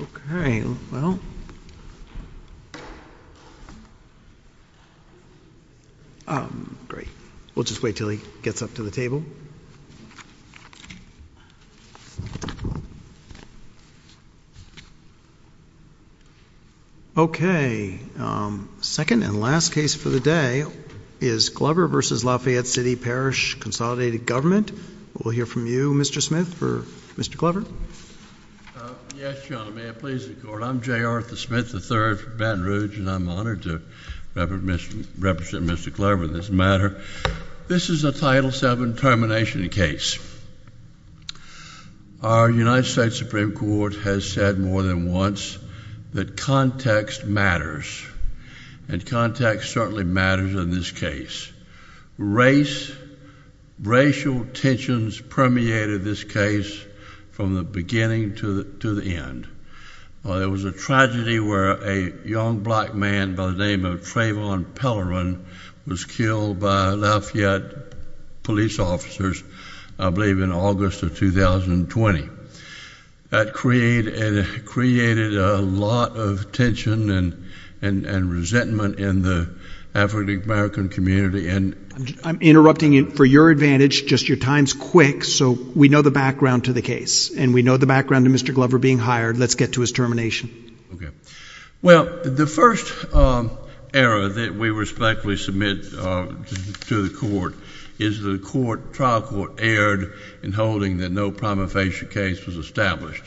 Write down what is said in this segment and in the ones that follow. Okay, well. Great. We'll just wait until he gets up to the table. Okay. Second and last case for the day is Glover v. Lafayette City-Parish Consolidated Government. We'll hear from you, Mr. Smith, for Mr. Glover. Yes, Your Honor. May it please the Court, I'm J. Arthur Smith III from Baton Rouge and I'm honored to represent Mr. Glover in this matter. This is a Title VII termination case. Our United States Supreme Court has said more than once that context matters, and context certainly matters in this case. Race, racial tensions permeated this case from the beginning to the end. There was a tragedy where a young black man by the name of Trayvon Pellerin was killed by Lafayette police officers, I believe, in August of 2020. That created a lot of tension and resentment in the African-American community, and... I'm interrupting for your advantage, just your time's quick, so we know the background to the case, and we know the background to Mr. Glover being hired. Let's get to his termination. Okay. Well, the first error that we respectfully submit to the Court is the trial court erred in holding that no prima facie case was established.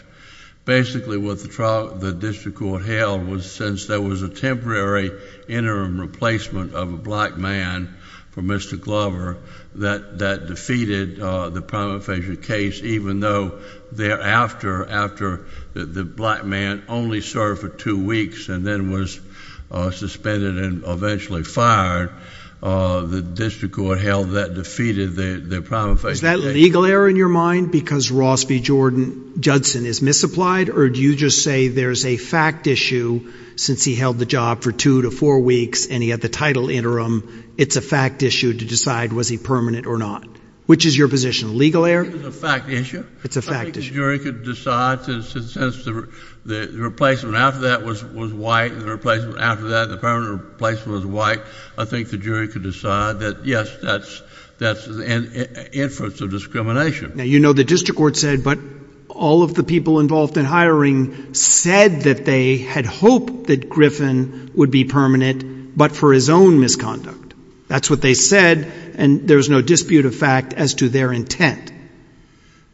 Basically, what the district court held was since there was a temporary interim replacement of a black man for Mr. Glover, that defeated the prima facie case, even though thereafter, after the black man only served for two weeks and then was suspended and eventually fired, the district court held that defeated the prima facie case. Is that legal error in your mind, because Ross v. Judson is misapplied, or do you just say there's a fact issue since he held the job for two to four weeks, and he had the title interim? It's a fact issue to decide was he permanent or not. Which is your position, legal error? It's a fact issue. It's a fact issue. I think the jury could decide since the replacement after that was white, and the replacement after that, the permanent replacement was white, I think the jury could decide that yes, that's an inference of discrimination. Now, you know the district court said, but all of the people involved in hiring said that they had hoped that Griffin would be permanent, but for his own misconduct. That's what they said, and there's no dispute of fact as to their intent.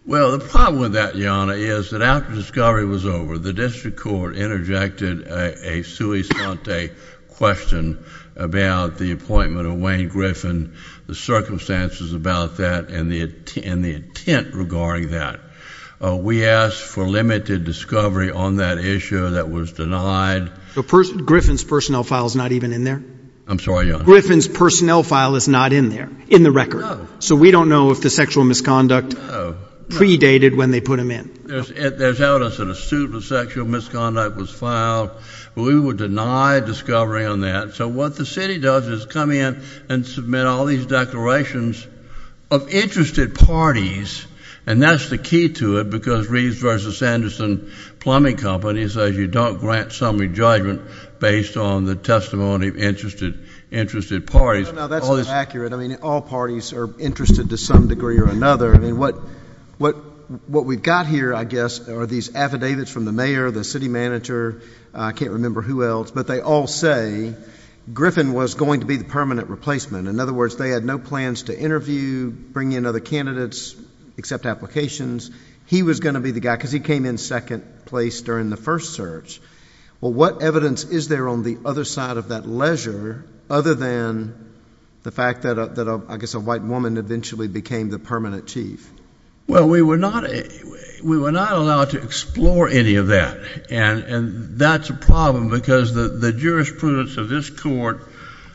Well, the problem with that, Jana, is that after discovery was over, the district court interjected a sui sante question about the appointment of Wayne Griffin, the circumstances about that, and the intent regarding that. We asked for limited discovery on that issue that was denied. Griffin's personnel file is not even in there? I'm sorry, Your Honor. Griffin's personnel file is not in there, in the record. So we don't know if the sexual misconduct predated when they put him in. There's evidence that a suit of sexual misconduct was filed. We would deny discovery on that. So what the city does is come in and submit all these declarations of interested parties, and that's the key to it, because Reeves v. Sanderson Plumbing Company says you don't grant summary judgment based on the testimony of interested parties. No, no, no, that's not accurate. I mean, all parties are interested to some degree or another. What we've got here, I guess, are these affidavits from the mayor, the city manager, I can't remember who else, but they all say Griffin was going to be the permanent replacement. In other words, they had no plans to interview, bring in other candidates, accept applications. He was going to be the guy, because he came in second place during the first search. Well, what evidence is there on the other side of that ledger, other than the fact that I guess a white woman eventually became the permanent chief? Well, we were not allowed to explore any of that, and that's a problem, because the jurisprudence of this Court,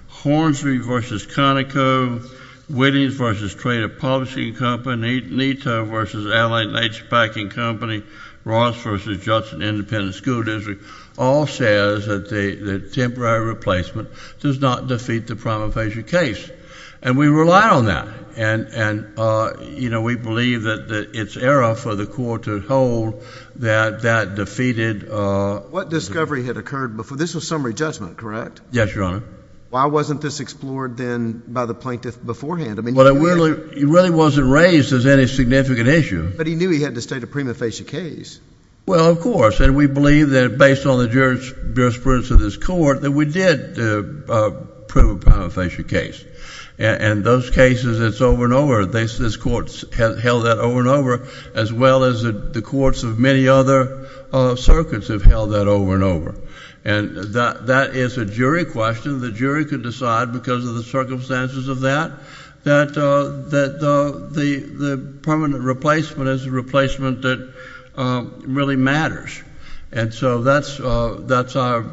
Hornsby v. Conoco, Whittings v. Trader Publishing Company, Neto v. Allen Plaintiff Nature Packing Company, Ross v. Judson Independent School District, all says that the temporary replacement does not defeat the prima facie case. And we rely on that. And you know, we believe that it's error for the Court to hold that that defeated— What discovery had occurred before? This was summary judgment, correct? Yes, Your Honor. Why wasn't this explored then by the plaintiff beforehand? Well, he really wasn't raised as any significant issue. But he knew he had to state a prima facie case. Well, of course. And we believe that, based on the jurisprudence of this Court, that we did prove a prima facie case. And those cases, it's over and over. This Court has held that over and over, as well as the courts of many other circuits have held that over and over. And that is a jury question. The jury can decide, because of the circumstances of that, that the permanent replacement is a replacement that really matters. And so that's our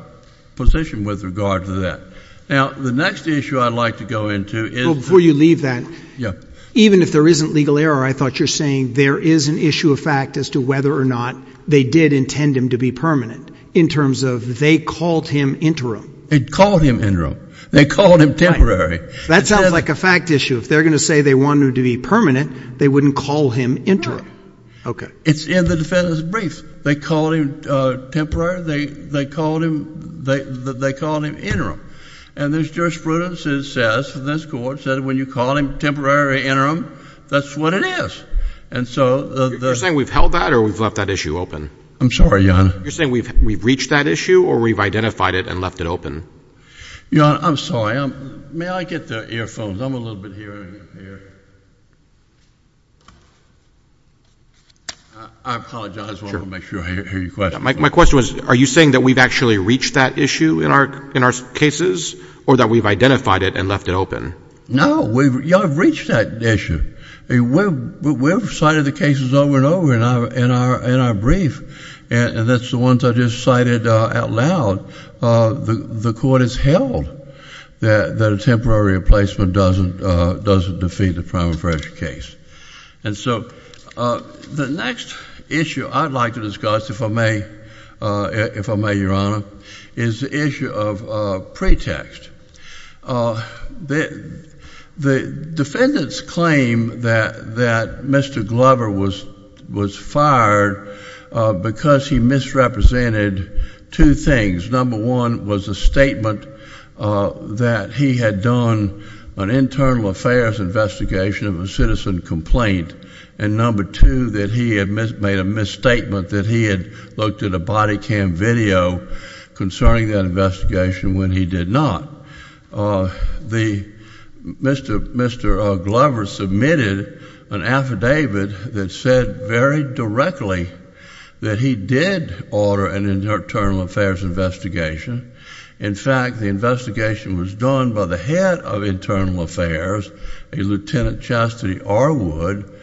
position with regard to that. Now, the next issue I'd like to go into is— Well, before you leave that— Yeah. Even if there isn't legal error, I thought you're saying there is an issue of fact as to whether or not they did intend him to be permanent, in terms of they called him interim. They called him interim. They called him temporary. That sounds like a fact issue. If they're going to say they wanted him to be permanent, they wouldn't call him interim. Okay. It's in the defendant's brief. They called him temporary. They called him interim. And there's jurisprudence that says, this Court, that when you call him temporary or interim, that's what it is. And so— You're saying we've held that or we've left that issue open? I'm sorry, Your Honor. You're saying we've reached that issue or we've identified it and left it open? Your Honor, I'm sorry. May I get the earphones? I'm a little bit hearing impaired. I apologize. I want to make sure I hear your question. My question was, are you saying that we've actually reached that issue in our cases or that we've identified it and left it open? No. We've reached that issue. We've cited the cases over and over in our brief. And that's the ones I just cited out loud. The Court has held that a temporary replacement doesn't defeat the prima facie case. And so, the next issue I'd like to discuss, if I may, Your Honor, is the issue of pretext. The defendant's claim that Mr. Glover was fired because he misrepresented the defendant misrepresented two things. Number one was a statement that he had done an internal affairs investigation of a citizen complaint. And number two, that he had made a misstatement that he had looked at a body cam video concerning that investigation when he did not. Mr. Glover submitted an affidavit that said very directly that he did order an internal affairs investigation. In fact, the investigation was done by the head of internal affairs, a Lieutenant Chastity Arwood.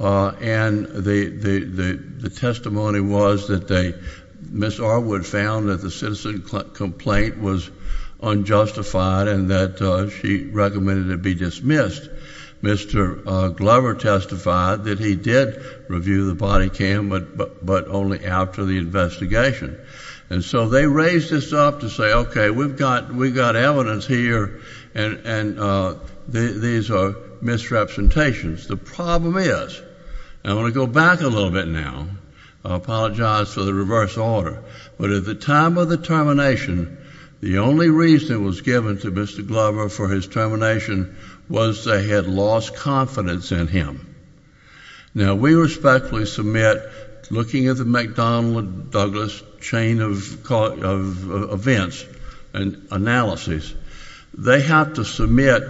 And the testimony was that Ms. Arwood found that the citizen complaint was unjustified and that she recommended it be dismissed. Mr. Glover testified that he did review the body cam, but only after the investigation. And so, they raised this up to say, okay, we've got evidence here, and these are misrepresentations. The problem is, and I want to go back a little bit now, I apologize for the reverse order, but at the time of the termination, the only reason it was given to Mr. Glover for his termination was they had lost confidence in him. Now, we respectfully submit, looking at the McDonnell and Douglas chain of events and analyses, they have to submit,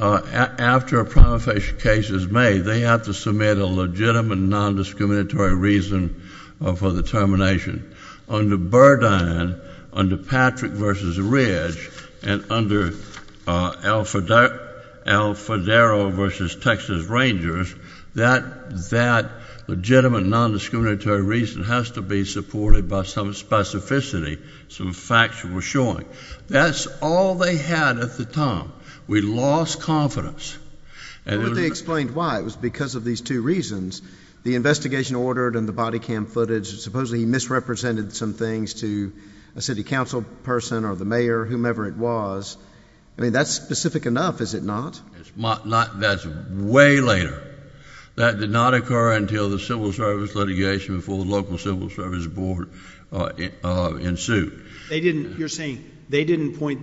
after a prima facie case is made, they have to submit a legitimate non-discriminatory reason for the termination. Under Burdine, under Patrick v. Ridge, and under Alfadero v. Texas Rangers, that legitimate non-discriminatory reason has to be supported by some specificity, some facts that were showing. That's all they had at the time. We lost confidence. Well, but they explained why. It was because of these two reasons. The investigation ordered in the body cam footage, supposedly he misrepresented some things to a city council person or the mayor, whomever it was. I mean, that's specific enough, is it not? That's way later. That did not occur until the civil service litigation before the local civil service board ensued. You're saying they didn't point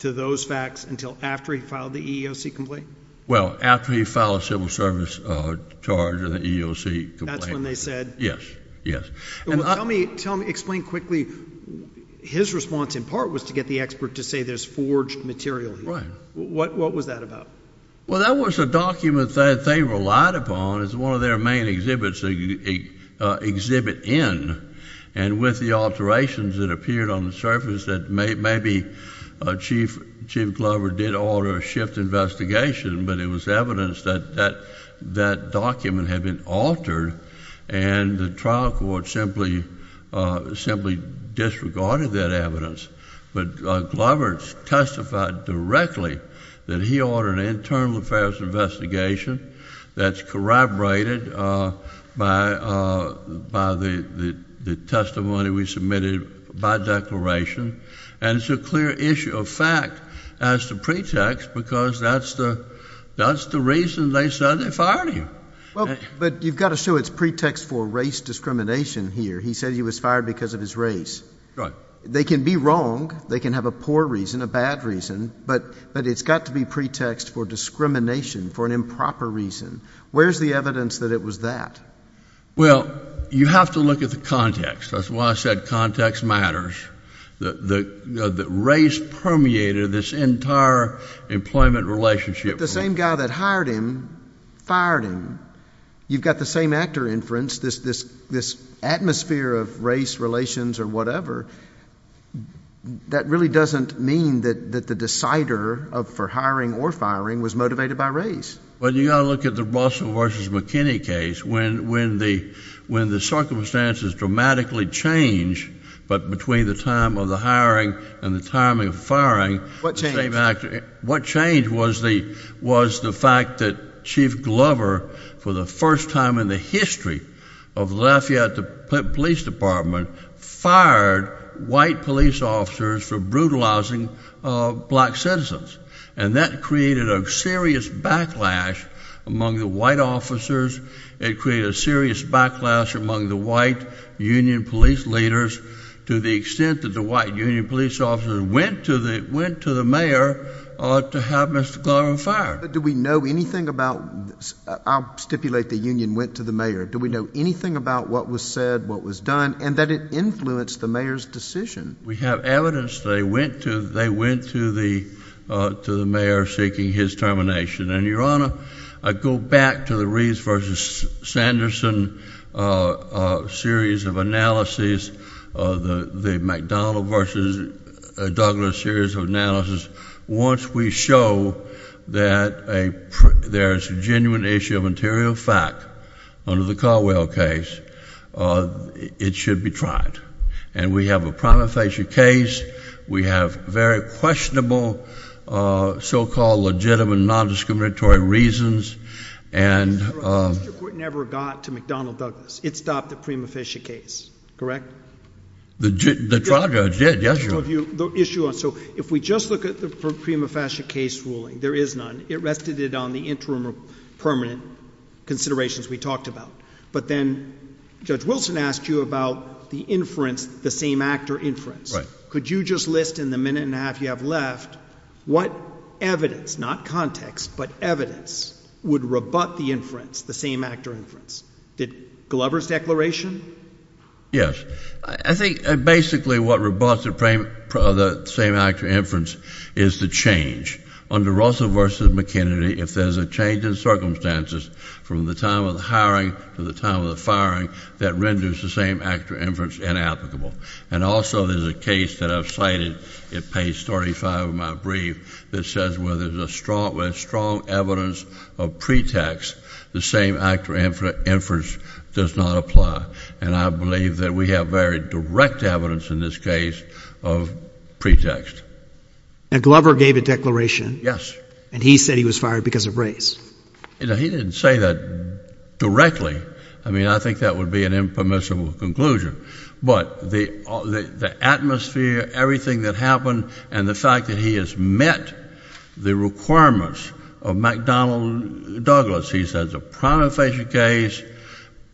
to those facts until after he filed the EEOC complaint? Well, after he filed a civil service charge in the EEOC complaint. That's when they said? Yes, yes. Well, tell me, explain quickly, his response in part was to get the expert to say there's forged material here. What was that about? Well, that was a document that they relied upon as one of their main exhibits to exhibit in, and with the alterations that appeared on the surface that maybe Chief Glover did not order a shift investigation, but it was evidence that that document had been altered and the trial court simply disregarded that evidence. But Glover testified directly that he ordered an internal affairs investigation that's corroborated by the testimony we submitted by declaration, and it's a clear issue of fact as the pretext because that's the reason they said they fired him. Well, but you've got to show it's pretext for race discrimination here. He said he was fired because of his race. Right. They can be wrong. They can have a poor reason, a bad reason, but it's got to be pretext for discrimination for an improper reason. Where's the evidence that it was that? Well, you have to look at the context. That's why I said context matters. The race permeated this entire employment relationship. The same guy that hired him fired him. You've got the same actor inference, this atmosphere of race relations or whatever. That really doesn't mean that the decider for hiring or firing was motivated by race. Well, you've got to look at the Russell versus McKinney case. When the circumstances dramatically change, but between the time of the hiring and the timing of firing, the same actor... What changed was the fact that Chief Glover, for the first time in the history of the Lafayette Police Department, fired white police officers for brutalizing black citizens. And that created a serious backlash among the white officers. It created a serious backlash among the white union police leaders to the extent that the white union police officers went to the mayor to have Mr. Glover fired. Do we know anything about... I'll stipulate the union went to the mayor. Do we know anything about what was said, what was done, and that it influenced the mayor's decision? We have evidence they went to the mayor seeking his termination. And Your Honor, I go back to the Reeves versus Sanderson series of analyses, the McDonnell versus Douglas series of analysis. Once we show that there's a genuine issue of interior fact under the Caldwell case, it should be tried. And we have a prima facie case. We have very questionable, so-called legitimate non-discriminatory reasons. Mr. Court never got to McDonnell-Douglas. It stopped the prima facie case, correct? The trial judge did, yes, Your Honor. If we just look at the prima facie case ruling, there is none. It rested it on the interim permanent considerations we talked about. But then Judge Wilson asked you about the inference, the same-actor inference. Could you just list in the minute and a half you have left, what evidence, not context, but evidence would rebut the inference, the same-actor inference? Did Glover's declaration? Yes. I think basically what rebuts the same-actor inference is the change. Under Russell versus McKinney, if there's a change in circumstances from the time of the hiring to the time of the firing, that renders the same-actor inference inapplicable. And also, there's a case that I've cited at page 35 of my brief that says where there's a strong evidence of pretext, the same-actor inference does not apply. And I believe that we have very direct evidence in this case of pretext. And Glover gave a declaration? Yes. And he said he was fired because of race? He didn't say that directly. I mean, I think that would be an impermissible conclusion. But the atmosphere, everything that happened, and the fact that he has met the requirements of McDonnell Douglas, he says, a primary facie case,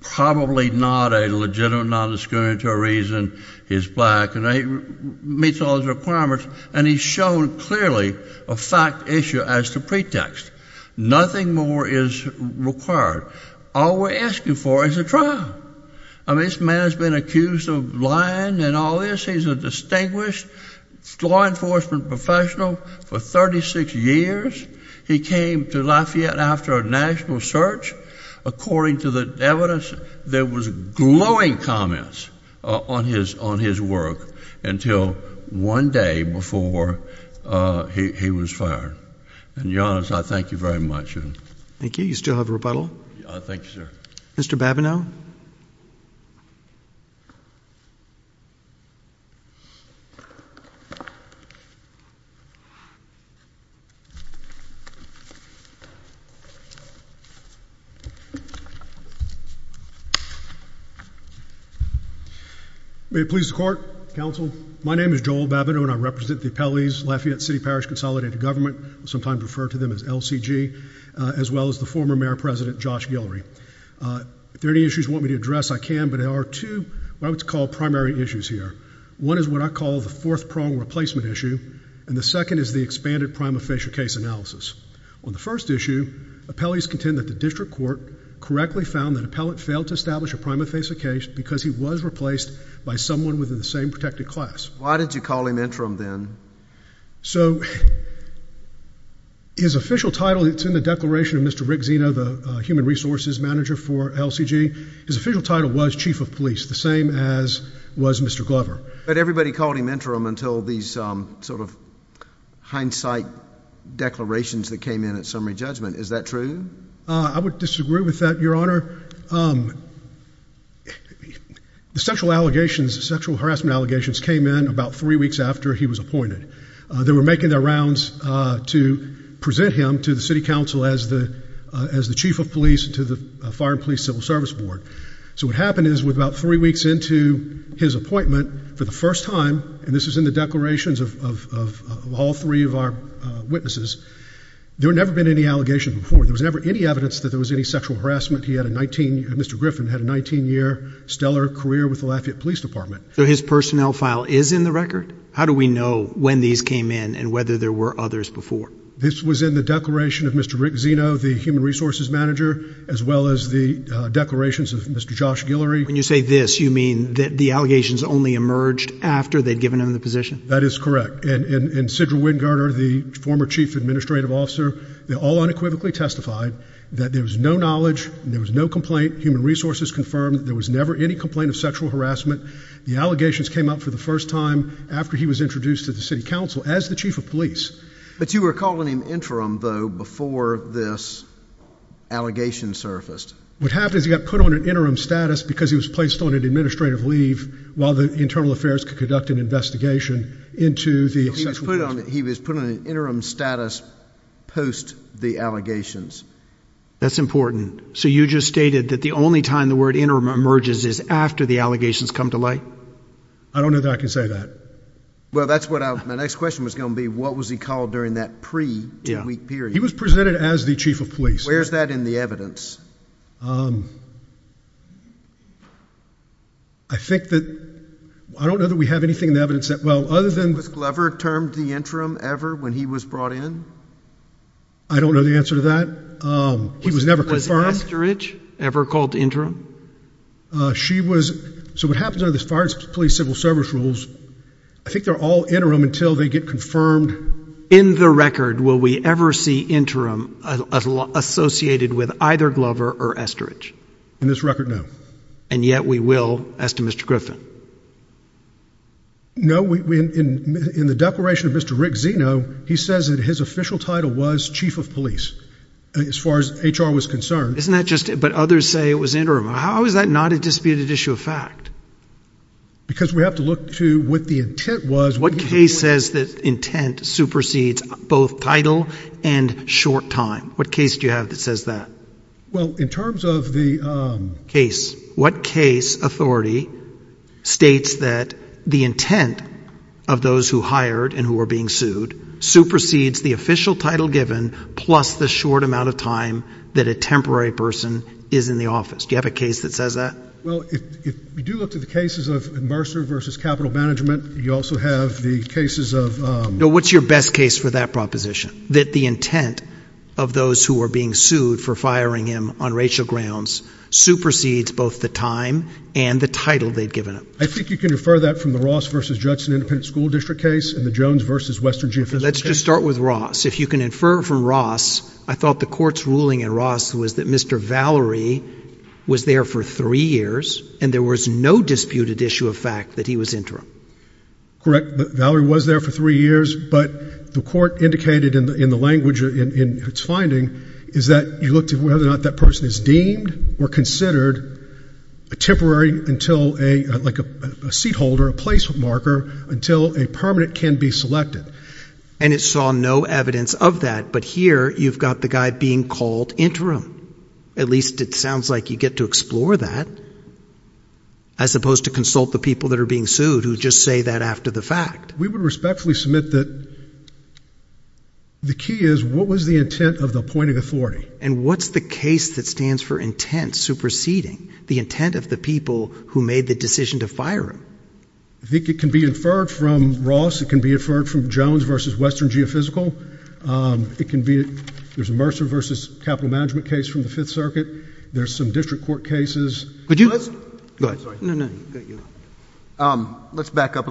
probably not a legitimate non-discriminatory reason, he's black, and he meets all his requirements, and he's shown clearly a fact issue as to pretext. Nothing more is required. All we're asking for is a trial. I mean, this man has been accused of lying and all this. He's a distinguished law enforcement professional for 36 years. He came to Lafayette after a national search. According to the evidence, there was glowing comments on his work until one day before he was fired. And, Your Honor, I thank you very much. Thank you. You still have rebuttal? Thank you, sir. Mr. Babineau? May it please the Court, Counsel, my name is Joel Babineau, and I represent the appellees Lafayette City Parish Consolidated Government, sometimes referred to them as LCG, as well as the former Mayor President, Josh Guillory. If there are any issues you want me to address, I can, but there are two what I would call primary issues here. One is what I call the fourth prong replacement issue, and the second is the expanded prima facie case analysis. On the first issue, appellees contend that the district court correctly found that appellate failed to establish a prima facie case because he was replaced by someone within the same protected class. Why did you call him interim then? So his official title, it's in the declaration of Mr. Rick Zeno, the Human Resources Manager for LCG. His official title was Chief of Police, the same as was Mr. Glover. But everybody called him interim until these sort of hindsight declarations that came in at summary judgment. Is that true? I would disagree with that, Your Honor. The sexual allegations, sexual harassment allegations came in about three weeks after he was appointed. They were making their rounds to present him to the City Council as the Chief of Police to the Fire and Police Civil Service Board. So what happened is with about three weeks into his appointment for the first time, and this is in the declarations of all three of our witnesses, there had never been any allegations before. There was never any evidence that there was any sexual harassment. Mr. Griffin had a 19-year stellar career with the Lafayette Police Department. So his personnel file is in the record? How do we know when these came in and whether there were others before? This was in the declaration of Mr. Rick Zeno, the Human Resources Manager, as well as the declarations of Mr. Josh Guillory. When you say this, you mean that the allegations only emerged after they'd given him the position? That is correct. And Sidra Wingarder, the former Chief Administrative Officer, they firmly testified that there was no knowledge, there was no complaint, human resources confirmed, there was never any complaint of sexual harassment. The allegations came up for the first time after he was introduced to the City Council as the Chief of Police. But you were calling him interim, though, before this allegation surfaced? What happened is he got put on an interim status because he was placed on an administrative leave while the Internal Affairs could conduct an investigation into the sexual harassment. He was put on an interim status post the allegations. That's important. So you just stated that the only time the word interim emerges is after the allegations come to light? I don't know that I can say that. Well that's what my next question was going to be, what was he called during that pre-two-week period? He was presented as the Chief of Police. Where's that in the evidence? I think that, I don't know that we have anything in the evidence that, well other than Was Glover termed the interim ever when he was brought in? I don't know the answer to that. He was never confirmed. Was Estridge ever called interim? She was, so what happens under the Fire and Police Civil Service rules, I think they're all interim until they get confirmed. In the record, will we ever see interim associated with either Glover or Estridge? In this record, no. And yet we will, as to Mr. Griffin? No, in the declaration of Mr. Rick Zeno, he says that his official title was Chief of Police, as far as HR was concerned. Isn't that just, but others say it was interim. How is that not a disputed issue of fact? Because we have to look to what the intent was. What case says that intent supersedes both title and short time? What case do you have that says that? Well, in terms of the case. What case authority states that the intent of those who hired and who are being sued supersedes the official title given plus the short amount of time that a temporary person is in the office? Do you have a case that says that? Well, if you do look to the cases of Mercer versus Capital Management, you also have the cases of No, what's your best case for that proposition, that the intent of those who are being sued for firing him on racial grounds supersedes both the time and the title they'd given him? I think you can refer that from the Ross versus Judson Independent School District case and the Jones versus Western Geophysical case. Let's just start with Ross. If you can infer from Ross, I thought the court's ruling in Ross was that Mr. Valerie was there for three years and there was no disputed issue of fact that he was interim. Correct. Valerie was there for three years, but the court indicated in the language in its finding is that you looked at whether or not that person is deemed or considered a temporary until a seat holder, a place marker, until a permanent can be selected. And it saw no evidence of that, but here you've got the guy being called interim. At least it sounds like you get to explore that as opposed to consult the people that are being sued who just say that after the fact. We would respectfully submit that the key is what was the intent of the appointing authority? And what's the case that stands for intent superseding the intent of the people who made the decision to fire him? I think it can be inferred from Ross. It can be inferred from Jones versus Western Geophysical. It can be, there's a Mercer versus Capital Management case from the Fifth Circuit. There's some district court cases. Could you? Go ahead. No, no. Let's back up a little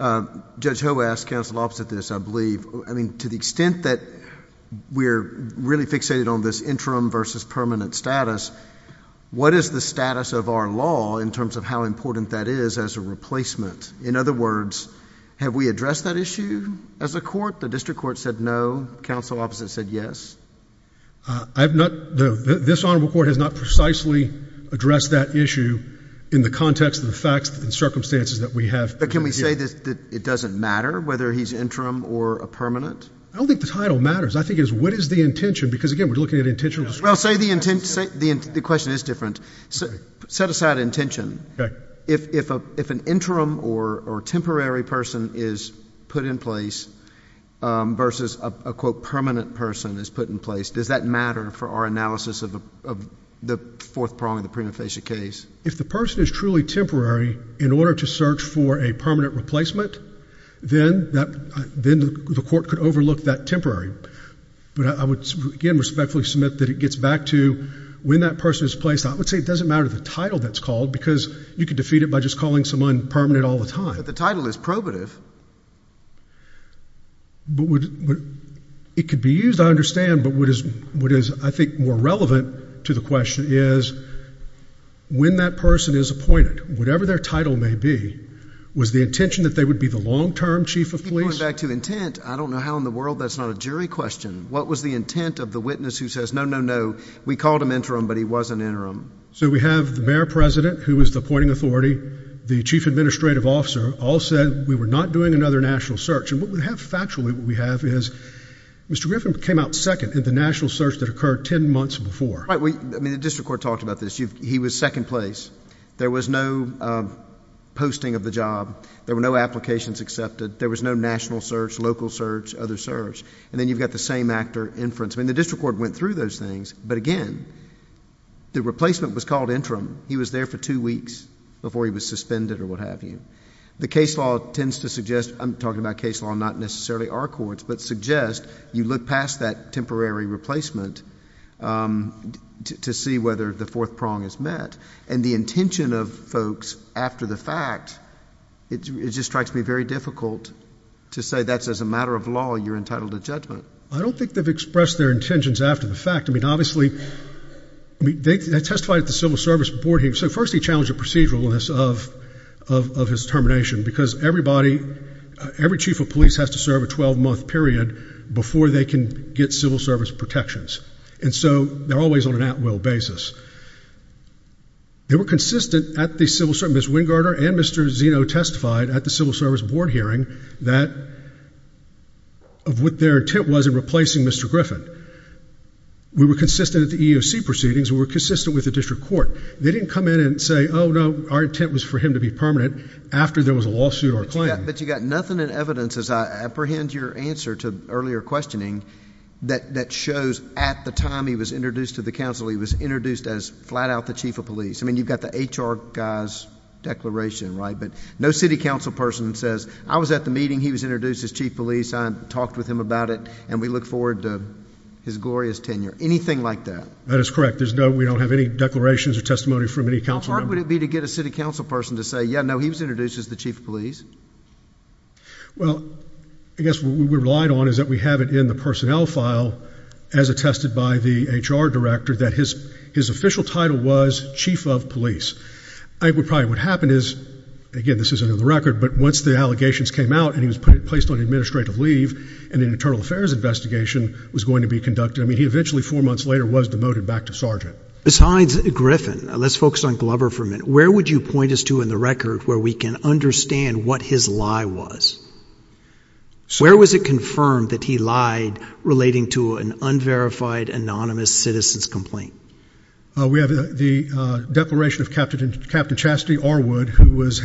bit. Judge Ho asked counsel opposite this, I believe, I mean, to the extent that we're really fixated on this interim versus permanent status, what is the status of our law in terms of how important that is as a replacement? In other words, have we addressed that issue as a court? The district court said no. Counsel opposite said yes. I have not, this honorable court has not precisely addressed that issue in the context of the facts and circumstances that we have. But can we say that it doesn't matter whether he's interim or a permanent? I don't think the title matters. I think it's what is the intention? Because again, we're looking at intentional discretion. Well, say the intent, the question is different. Set aside intention. Okay. If an interim or temporary person is put in place versus a quote permanent person is put in place, does that matter for our analysis of the fourth prong of the prima facie case? If the person is truly temporary in order to search for a permanent replacement, then the court could overlook that temporary. But I would again respectfully submit that it gets back to when that person is placed. I would say it doesn't matter the title that's called because you could defeat it by just calling someone permanent all the time. The title is probative. But it could be used, I understand, but what is I think more relevant to the question is when that person is appointed, whatever their title may be, was the intention that they would be the long-term chief of police? If you point back to intent, I don't know how in the world that's not a jury question. What was the intent of the witness who says, no, no, no, we called him interim, but he was an interim? So we have the mayor president who was the appointing authority, the chief administrative officer all said we were not doing another national search. And what we have factually, what we have is Mr. Griffin came out second in the national search that occurred ten months before. Right. I mean, the district court talked about this. He was second place. There was no posting of the job. There were no applications accepted. There was no national search, local search, other search, and then you've got the same actor inference. I mean, the district court went through those things, but again, the replacement was called interim. He was there for two weeks before he was suspended or what have you. The case law tends to suggest, I'm talking about case law, not necessarily our courts, but suggest you look past that temporary replacement to see whether the fourth prong is met. And the intention of folks after the fact, it just strikes me very difficult to say that's as a matter of law, you're entitled to judgment. I don't think they've expressed their intentions after the fact. I mean, obviously, they testified at the civil service board hearing. So first they challenged the proceduralness of his termination because everybody, every chief of police has to serve a 12-month period before they can get civil service protections. And so they're always on an at-will basis. They were consistent at the civil service, Ms. Wingardner and Mr. Zeno testified at the civil service board hearing that, of what their intent was in replacing Mr. Griffin. We were consistent at the EEOC proceedings, we were consistent with the district court. They didn't come in and say, oh no, our intent was for him to be permanent after there was a lawsuit or a claim. But you've got nothing in evidence, as I apprehend your answer to earlier questioning, that shows at the time he was introduced to the council, he was introduced as flat out the chief of police. I mean, you've got the HR guy's declaration, right, but no city council person says, I was at the meeting, he was introduced as chief of police, I talked with him about it, and we look forward to his glorious tenure. Anything like that. That is correct. There's no, we don't have any declarations or testimony from any council member. How hard would it be to get a city council person to say, yeah, no, he was introduced as the chief of police? Well, I guess what we relied on is that we have it in the personnel file, as attested by the HR director, that his official title was chief of police. I think probably what happened is, again, this isn't on the record, but once the allegations came out, and he was placed on administrative leave, and an internal affairs investigation was going to be conducted, I mean, he eventually, four months later, was demoted back to sergeant. Besides Griffin, let's focus on Glover for a minute. Where would you point us to in the record where we can understand what his lie was? Where was it confirmed that he lied relating to an unverified anonymous citizen's complaint? We have the declaration of Captain Chastity Arwood, who was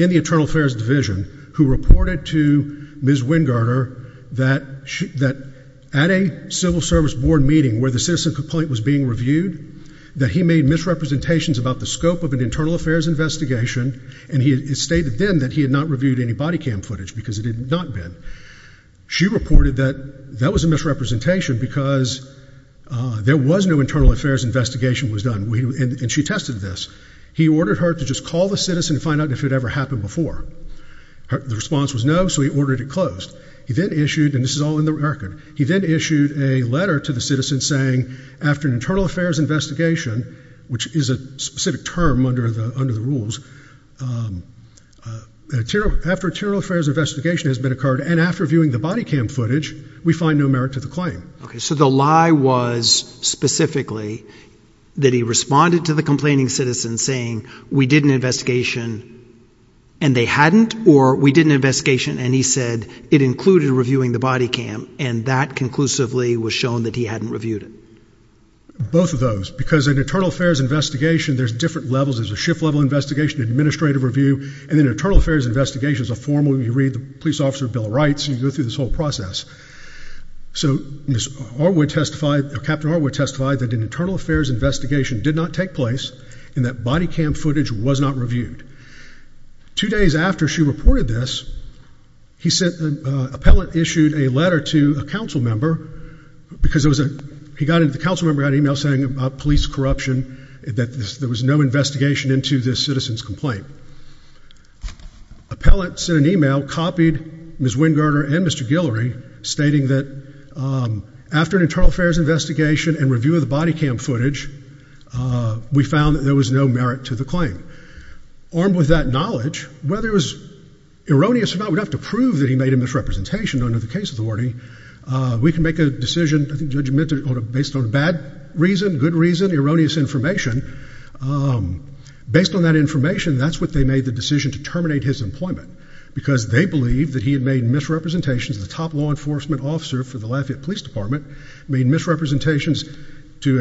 in the internal affairs division, who reported to Ms. Wingarder that at a civil service board meeting where the citizen complaint was being reviewed, that he made misrepresentations about the scope of an internal affairs investigation, and he stated then that he had not reviewed any body cam footage, because it had not been. She reported that that was a misrepresentation, because there was no internal affairs investigation was done, and she tested this. He ordered her to just call the citizen and find out if it ever happened before. The response was no, so he ordered it closed. He then issued, and this is all in the record, he then issued a letter to the citizen saying, after an internal affairs investigation, which is a specific term under the rules, after an internal affairs investigation has been occurred, and after viewing the body cam footage, we find no merit to the claim. So the lie was specifically that he responded to the complaining citizen saying, we did an investigation and they hadn't, or we did an investigation and he said it included reviewing the body cam, and that conclusively was shown that he hadn't reviewed it. Both of those, because an internal affairs investigation, there's different levels. There's a shift level investigation, an administrative review, and then an internal affairs investigation is a formal, you read the police officer bill of rights, and you go through this whole process. So Captain Arwood testified that an internal affairs investigation did not take place and that body cam footage was not reviewed. Two days after she reported this, he sent, an appellate issued a letter to a council member because there was a, the council member got an email saying about police corruption, that there was no investigation into this citizen's complaint. Appellate sent an email, copied Ms. Wingardner and Mr. Guillory, stating that after an internal affairs investigation and review of the body cam footage, we found that there was no merit to the claim. Armed with that knowledge, whether it was erroneous or not, we'd have to prove that he made a misrepresentation under the case authority. We can make a decision, I think judgmental, based on bad reason, good reason, erroneous information. Based on that information, that's what they made the decision to terminate his employment because they believe that he had made misrepresentations to the top law enforcement officer for the Lafayette Police Department, made misrepresentations to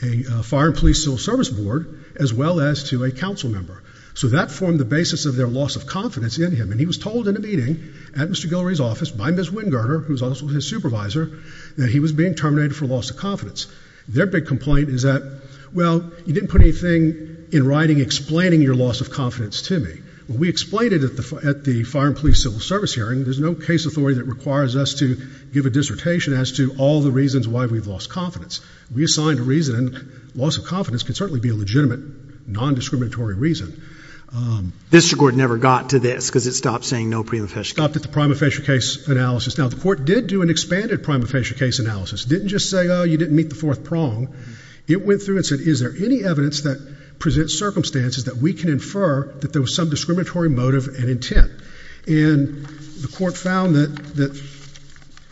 a fire and police civil service board, as well as to a council member. So that formed the basis of their loss of confidence in him and he was told in a meeting at Mr. Guillory's office by Ms. Wingardner, who was also his supervisor, that he was being terminated for loss of confidence. Their big complaint is that, well, you didn't put anything in writing explaining your loss of confidence to me. Well, we explained it at the fire and police civil service hearing. There's no case authority that requires us to give a dissertation as to all the reasons why we've lost confidence. We assigned a reason, and loss of confidence can certainly be a legitimate, non-discriminatory reason. The district court never got to this because it stopped saying no prima facie case analysis. It stopped at the prima facie case analysis. Now, the court did do an expanded prima facie case analysis. It didn't just say, oh, you didn't meet the fourth prong. It went through and said, is there any evidence that presents circumstances that we can infer that there was some discriminatory motive and intent? And the court found that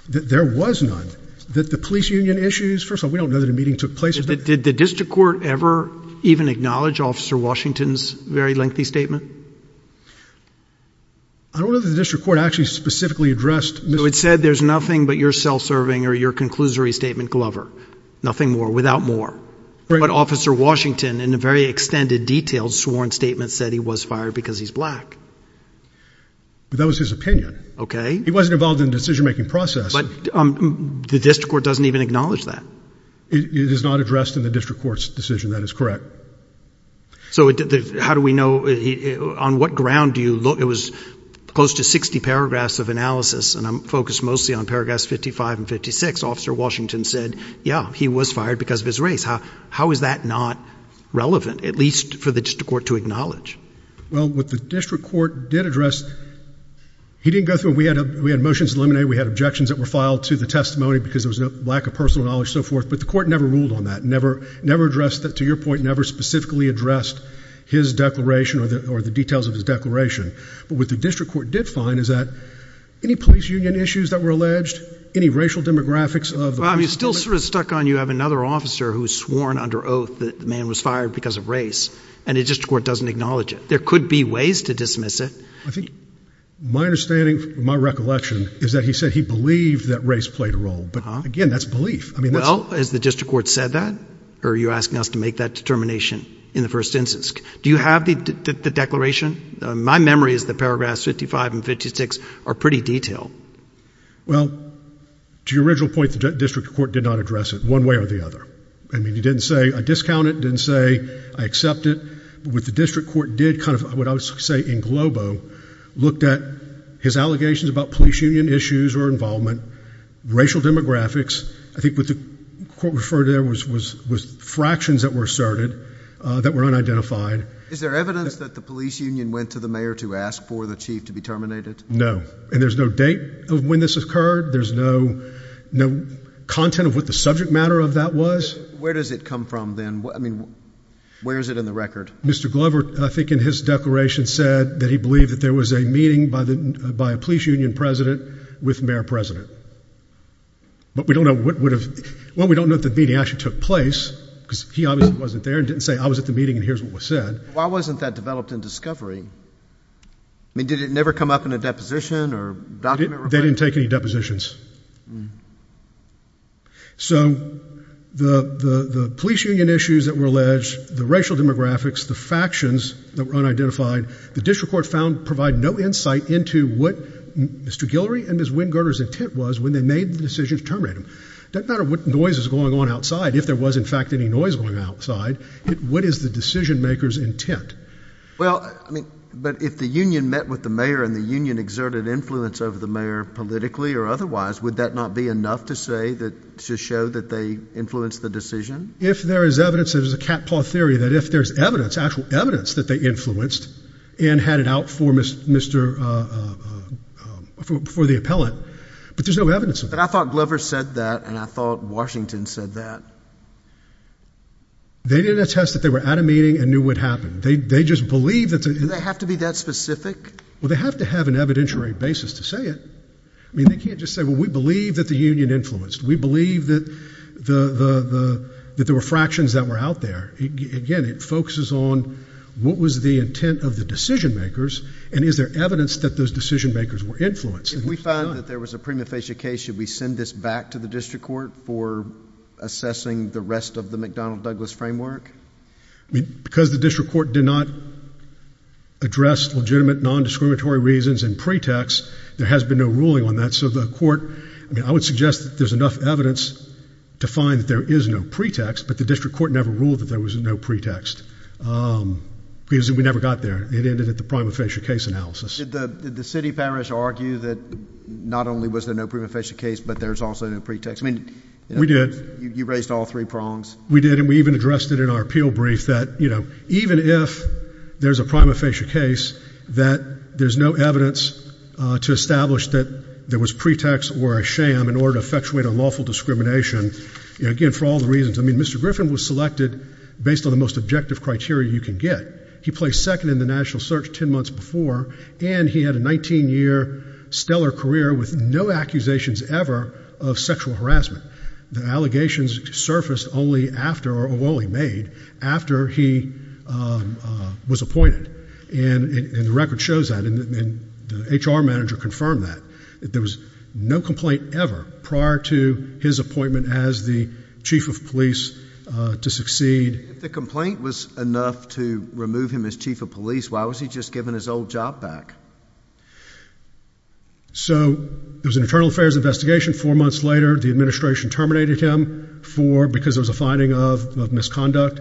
there was none. That the police union issues, first of all, we don't know that a meeting took place. Did the district court ever even acknowledge Officer Washington's very lengthy statement? I don't know that the district court actually specifically addressed Mr. He said there's nothing but your self-serving or your conclusory statement, Glover. Nothing more. Without more. But Officer Washington, in a very extended, detailed, sworn statement, said he was fired because he's black. But that was his opinion. Okay. He wasn't involved in the decision-making process. But the district court doesn't even acknowledge that. It is not addressed in the district court's decision. That is correct. So how do we know? On what ground do you look? It was close to 60 paragraphs of analysis. And I'm focused mostly on paragraphs 55 and 56. Officer Washington said, yeah, he was fired because of his race. How is that not relevant? At least for the district court to acknowledge. Well, what the district court did address, he didn't go through it. We had motions eliminated. We had objections that were filed to the testimony because there was a lack of personal knowledge, so forth. But the court never ruled on that. Never, never addressed that, to your point, never specifically addressed his declaration or the details of his declaration. But what the district court did find is that any police union issues that were alleged, any racial demographics of the police department. Well, I mean, it still sort of stuck on you have another officer who was sworn under oath that the man was fired because of race, and the district court doesn't acknowledge it. There could be ways to dismiss it. I think my understanding, my recollection, is that he said he believed that race played a role. But again, that's belief. I mean, that's... Well, has the district court said that? Or are you asking us to make that determination in the first instance? Do you have the declaration? My memory is that paragraphs 55 and 56 are pretty detailed. Well, to your original point, the district court did not address it one way or the other. I mean, he didn't say, I discount it, didn't say, I accept it. But what the district court did kind of, what I would say, in globo, looked at his allegations about police union issues or involvement, racial demographics. I think what the court referred to there was fractions that were asserted that were unidentified. Is there evidence that the police union went to the mayor to ask for the chief to be terminated? No. And there's no date of when this occurred. There's no content of what the subject matter of that was. Where does it come from then? I mean, where is it in the record? Mr. Glover, I think in his declaration said that he believed that there was a meeting by a police union president with mayor president. But we don't know what would have, well, we don't know if the meeting actually took place because he obviously wasn't there and didn't say, I was at the meeting and here's what was said. Why wasn't that developed in discovery? I mean, did it never come up in a deposition or document? They didn't take any depositions. So the police union issues that were alleged, the racial demographics, the factions that were unidentified, the district court found provide no insight into what Mr. Guillory and Ms. Wingarder's intent was when they made the decision to terminate him. Doesn't matter what noise is going on outside. If there was, in fact, any noise going outside, what is the decision maker's intent? Well, I mean, but if the union met with the mayor and the union exerted influence over the mayor politically or otherwise, would that not be enough to say that, to show that they influenced the decision? If there is evidence, there's a cat-paw theory that if there's evidence, actual evidence that they influenced and had it out for the appellant, but there's no evidence of it. But I thought Glover said that and I thought Washington said that. They didn't attest that they were at a meeting and knew what happened. They just believed that the union. Do they have to be that specific? Well, they have to have an evidentiary basis to say it. I mean, they can't just say, well, we believe that the union influenced. We believe that there were fractions that were out there. Again, it focuses on what was the intent of the decision makers and is there evidence that those decision makers were influenced. If we found that there was a prima facie case, should we send this back to the district court for assessing the rest of the McDonnell-Douglas framework? I mean, because the district court did not address legitimate nondiscriminatory reasons in pretext, there has been no ruling on that. I would suggest that there's enough evidence to find that there is no pretext, but the district court never ruled that there was no pretext because we never got there. It ended at the prima facie case analysis. Did the city parish argue that not only was there no prima facie case, but there's also no pretext? We did. You raised all three prongs. We did, and we even addressed it in our appeal brief that even if there's a prima facie case, that there's no evidence to establish that there was pretext or a sham in order to effectuate unlawful discrimination, again, for all the reasons. I mean, Mr. Griffin was selected based on the most objective criteria you can get. He placed second in the national search 10 months before, and he had a 19-year stellar career with no accusations ever of sexual harassment. The allegations surfaced only after, or were only made, after he was appointed. And the record shows that, and the HR manager confirmed that. There was no complaint ever prior to his appointment as the chief of police to succeed. If the complaint was enough to remove him as chief of police, why was he just given his old job back? So it was an internal affairs investigation. Four months later, the administration terminated him because there was a finding of misconduct,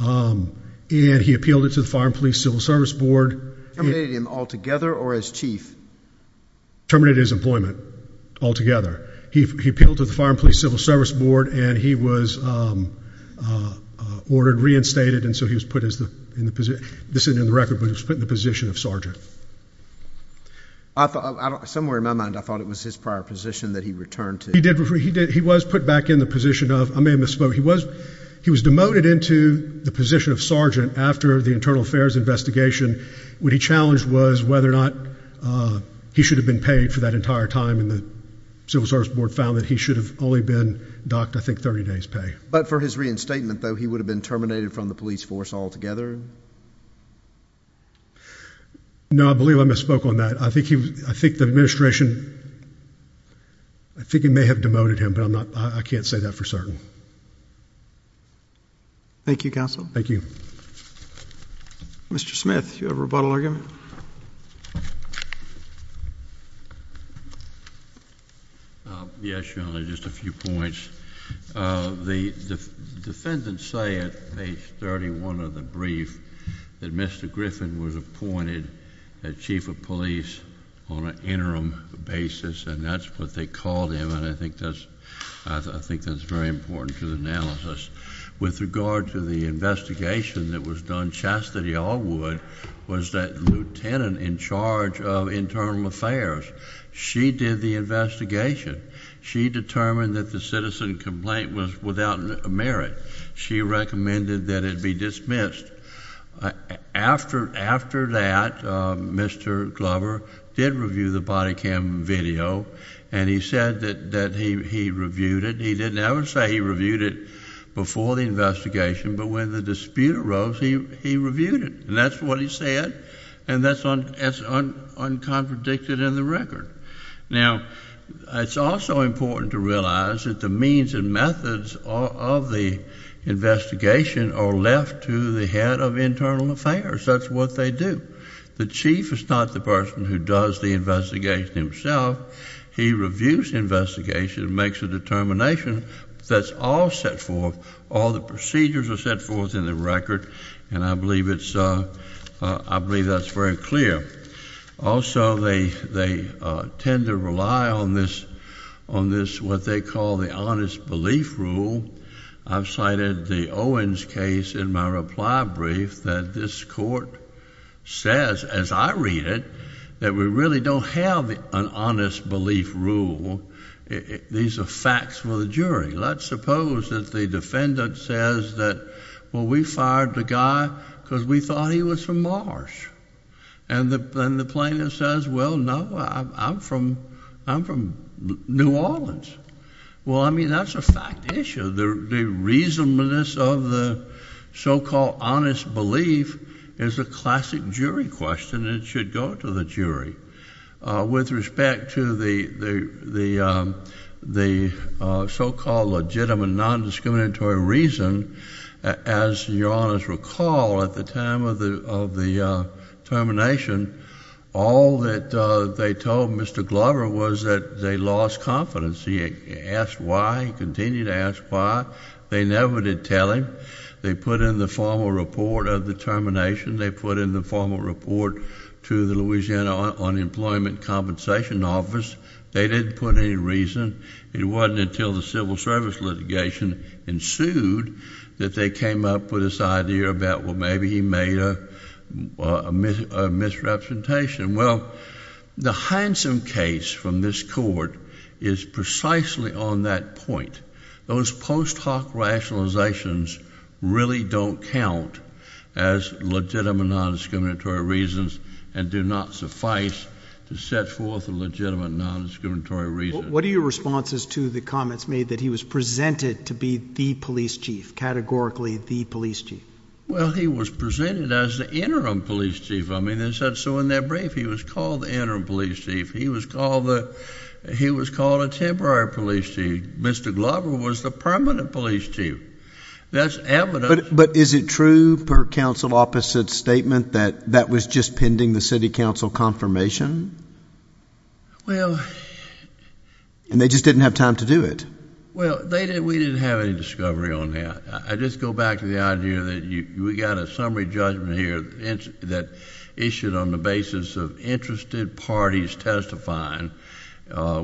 and he appealed it to the Fire and Police Civil Service Board. Terminated him altogether or as chief? Terminated his employment altogether. He appealed to the Fire and Police Civil Service Board, and he was ordered reinstated, and so he was put in the position of sergeant. Somewhere in my mind, I thought it was his prior position that he returned to. He was put back in the position of—I may have misspoke. So he was demoted into the position of sergeant after the internal affairs investigation. What he challenged was whether or not he should have been paid for that entire time, and the Civil Service Board found that he should have only been docked, I think, 30 days' pay. But for his reinstatement, though, he would have been terminated from the police force altogether? No, I believe I misspoke on that. I think the administration—I think it may have demoted him, but I can't say that for certain. Thank you, counsel. Thank you. Mr. Smith, do you have a rebuttal argument? Yes, Your Honor, just a few points. The defendants say at page 31 of the brief that Mr. Griffin was appointed chief of police on an interim basis, and that's what they called him, and I think that's very important to the analysis. With regard to the investigation that was done, Chastity Allwood was that lieutenant in charge of internal affairs. She did the investigation. She determined that the citizen complaint was without merit. She recommended that it be dismissed. After that, Mr. Glover did review the body cam video, and he said that he reviewed it. He didn't ever say he reviewed it before the investigation, but when the dispute arose, he reviewed it, and that's what he said, and that's uncontradicted in the record. Now, it's also important to realize that the means and methods of the investigation are left to the head of internal affairs. That's what they do. The chief is not the person who does the investigation himself. He reviews the investigation and makes a determination. That's all set forth. All the procedures are set forth in the record, and I believe that's very clear. Also, they tend to rely on this, what they call the honest belief rule. I've cited the Owens case in my reply brief that this court says, as I read it, that we really don't have an honest belief rule. These are facts for the jury. Let's suppose that the defendant says that, well, we fired the guy because we thought he was from Mars, and the plaintiff says, well, no, I'm from New Orleans. Well, I mean, that's a fact issue. The reasonableness of the so-called honest belief is a classic jury question, and it should go to the jury. With respect to the so-called legitimate nondiscriminatory reason, as Your Honors recall, at the time of the termination, all that they told Mr. Glover was that they lost confidence. He asked why. He continued to ask why. They never did tell him. They put in the formal report of the termination. They put in the formal report to the Louisiana Unemployment Compensation Office. They didn't put any reason. It wasn't until the civil service litigation ensued that they came up with this idea about, well, maybe he made a misrepresentation. Well, the handsome case from this court is precisely on that point. Those post hoc rationalizations really don't count as legitimate nondiscriminatory reasons and do not suffice to set forth a legitimate nondiscriminatory reason. What are your responses to the comments made that he was presented to be the police chief, categorically the police chief? Well, he was presented as the interim police chief. I mean, so in that brief, he was called the interim police chief. He was called a temporary police chief. Mr. Glover was the permanent police chief. That's evidence. But is it true, per counsel opposite's statement, that that was just pending the city council confirmation? Well. And they just didn't have time to do it. Well, we didn't have any discovery on that. I just go back to the idea that we got a summary judgment here that issued on the basis of interested parties testifying,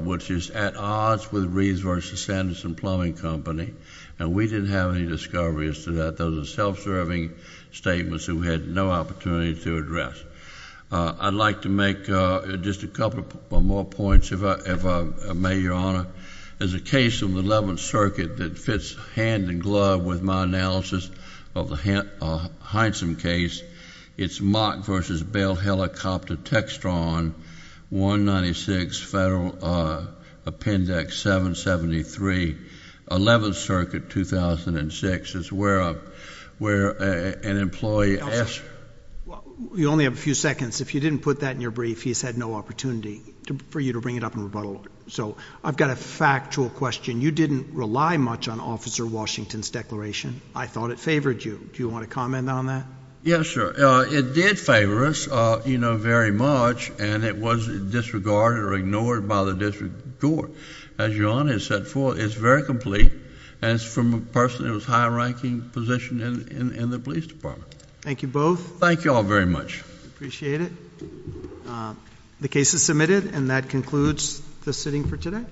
which is at odds with Reeves v. Sanderson Plumbing Company, and we didn't have any discovery as to that. Those are self-serving statements who had no opportunity to address. I'd like to make just a couple more points, if I may, Your Honor. There's a case in the 11th Circuit that fits hand in glove with my analysis of the Hindson case. It's Mott v. Bell Helicopter Textron, 196 Federal Appendix 773, 11th Circuit, 2006. It's where an employee asked. You only have a few seconds. If you didn't put that in your brief, he's had no opportunity for you to bring it up in rebuttal. So I've got a factual question. You didn't rely much on Officer Washington's declaration. I thought it favored you. Do you want to comment on that? Yes, sir. It did favor us, you know, very much, and it was disregarded or ignored by the district court. As Your Honor has set forth, it's very complete, and it's from a person in a high-ranking position in the police department. Thank you both. Thank you all very much. Appreciate it. The case is submitted, and that concludes the sitting for today.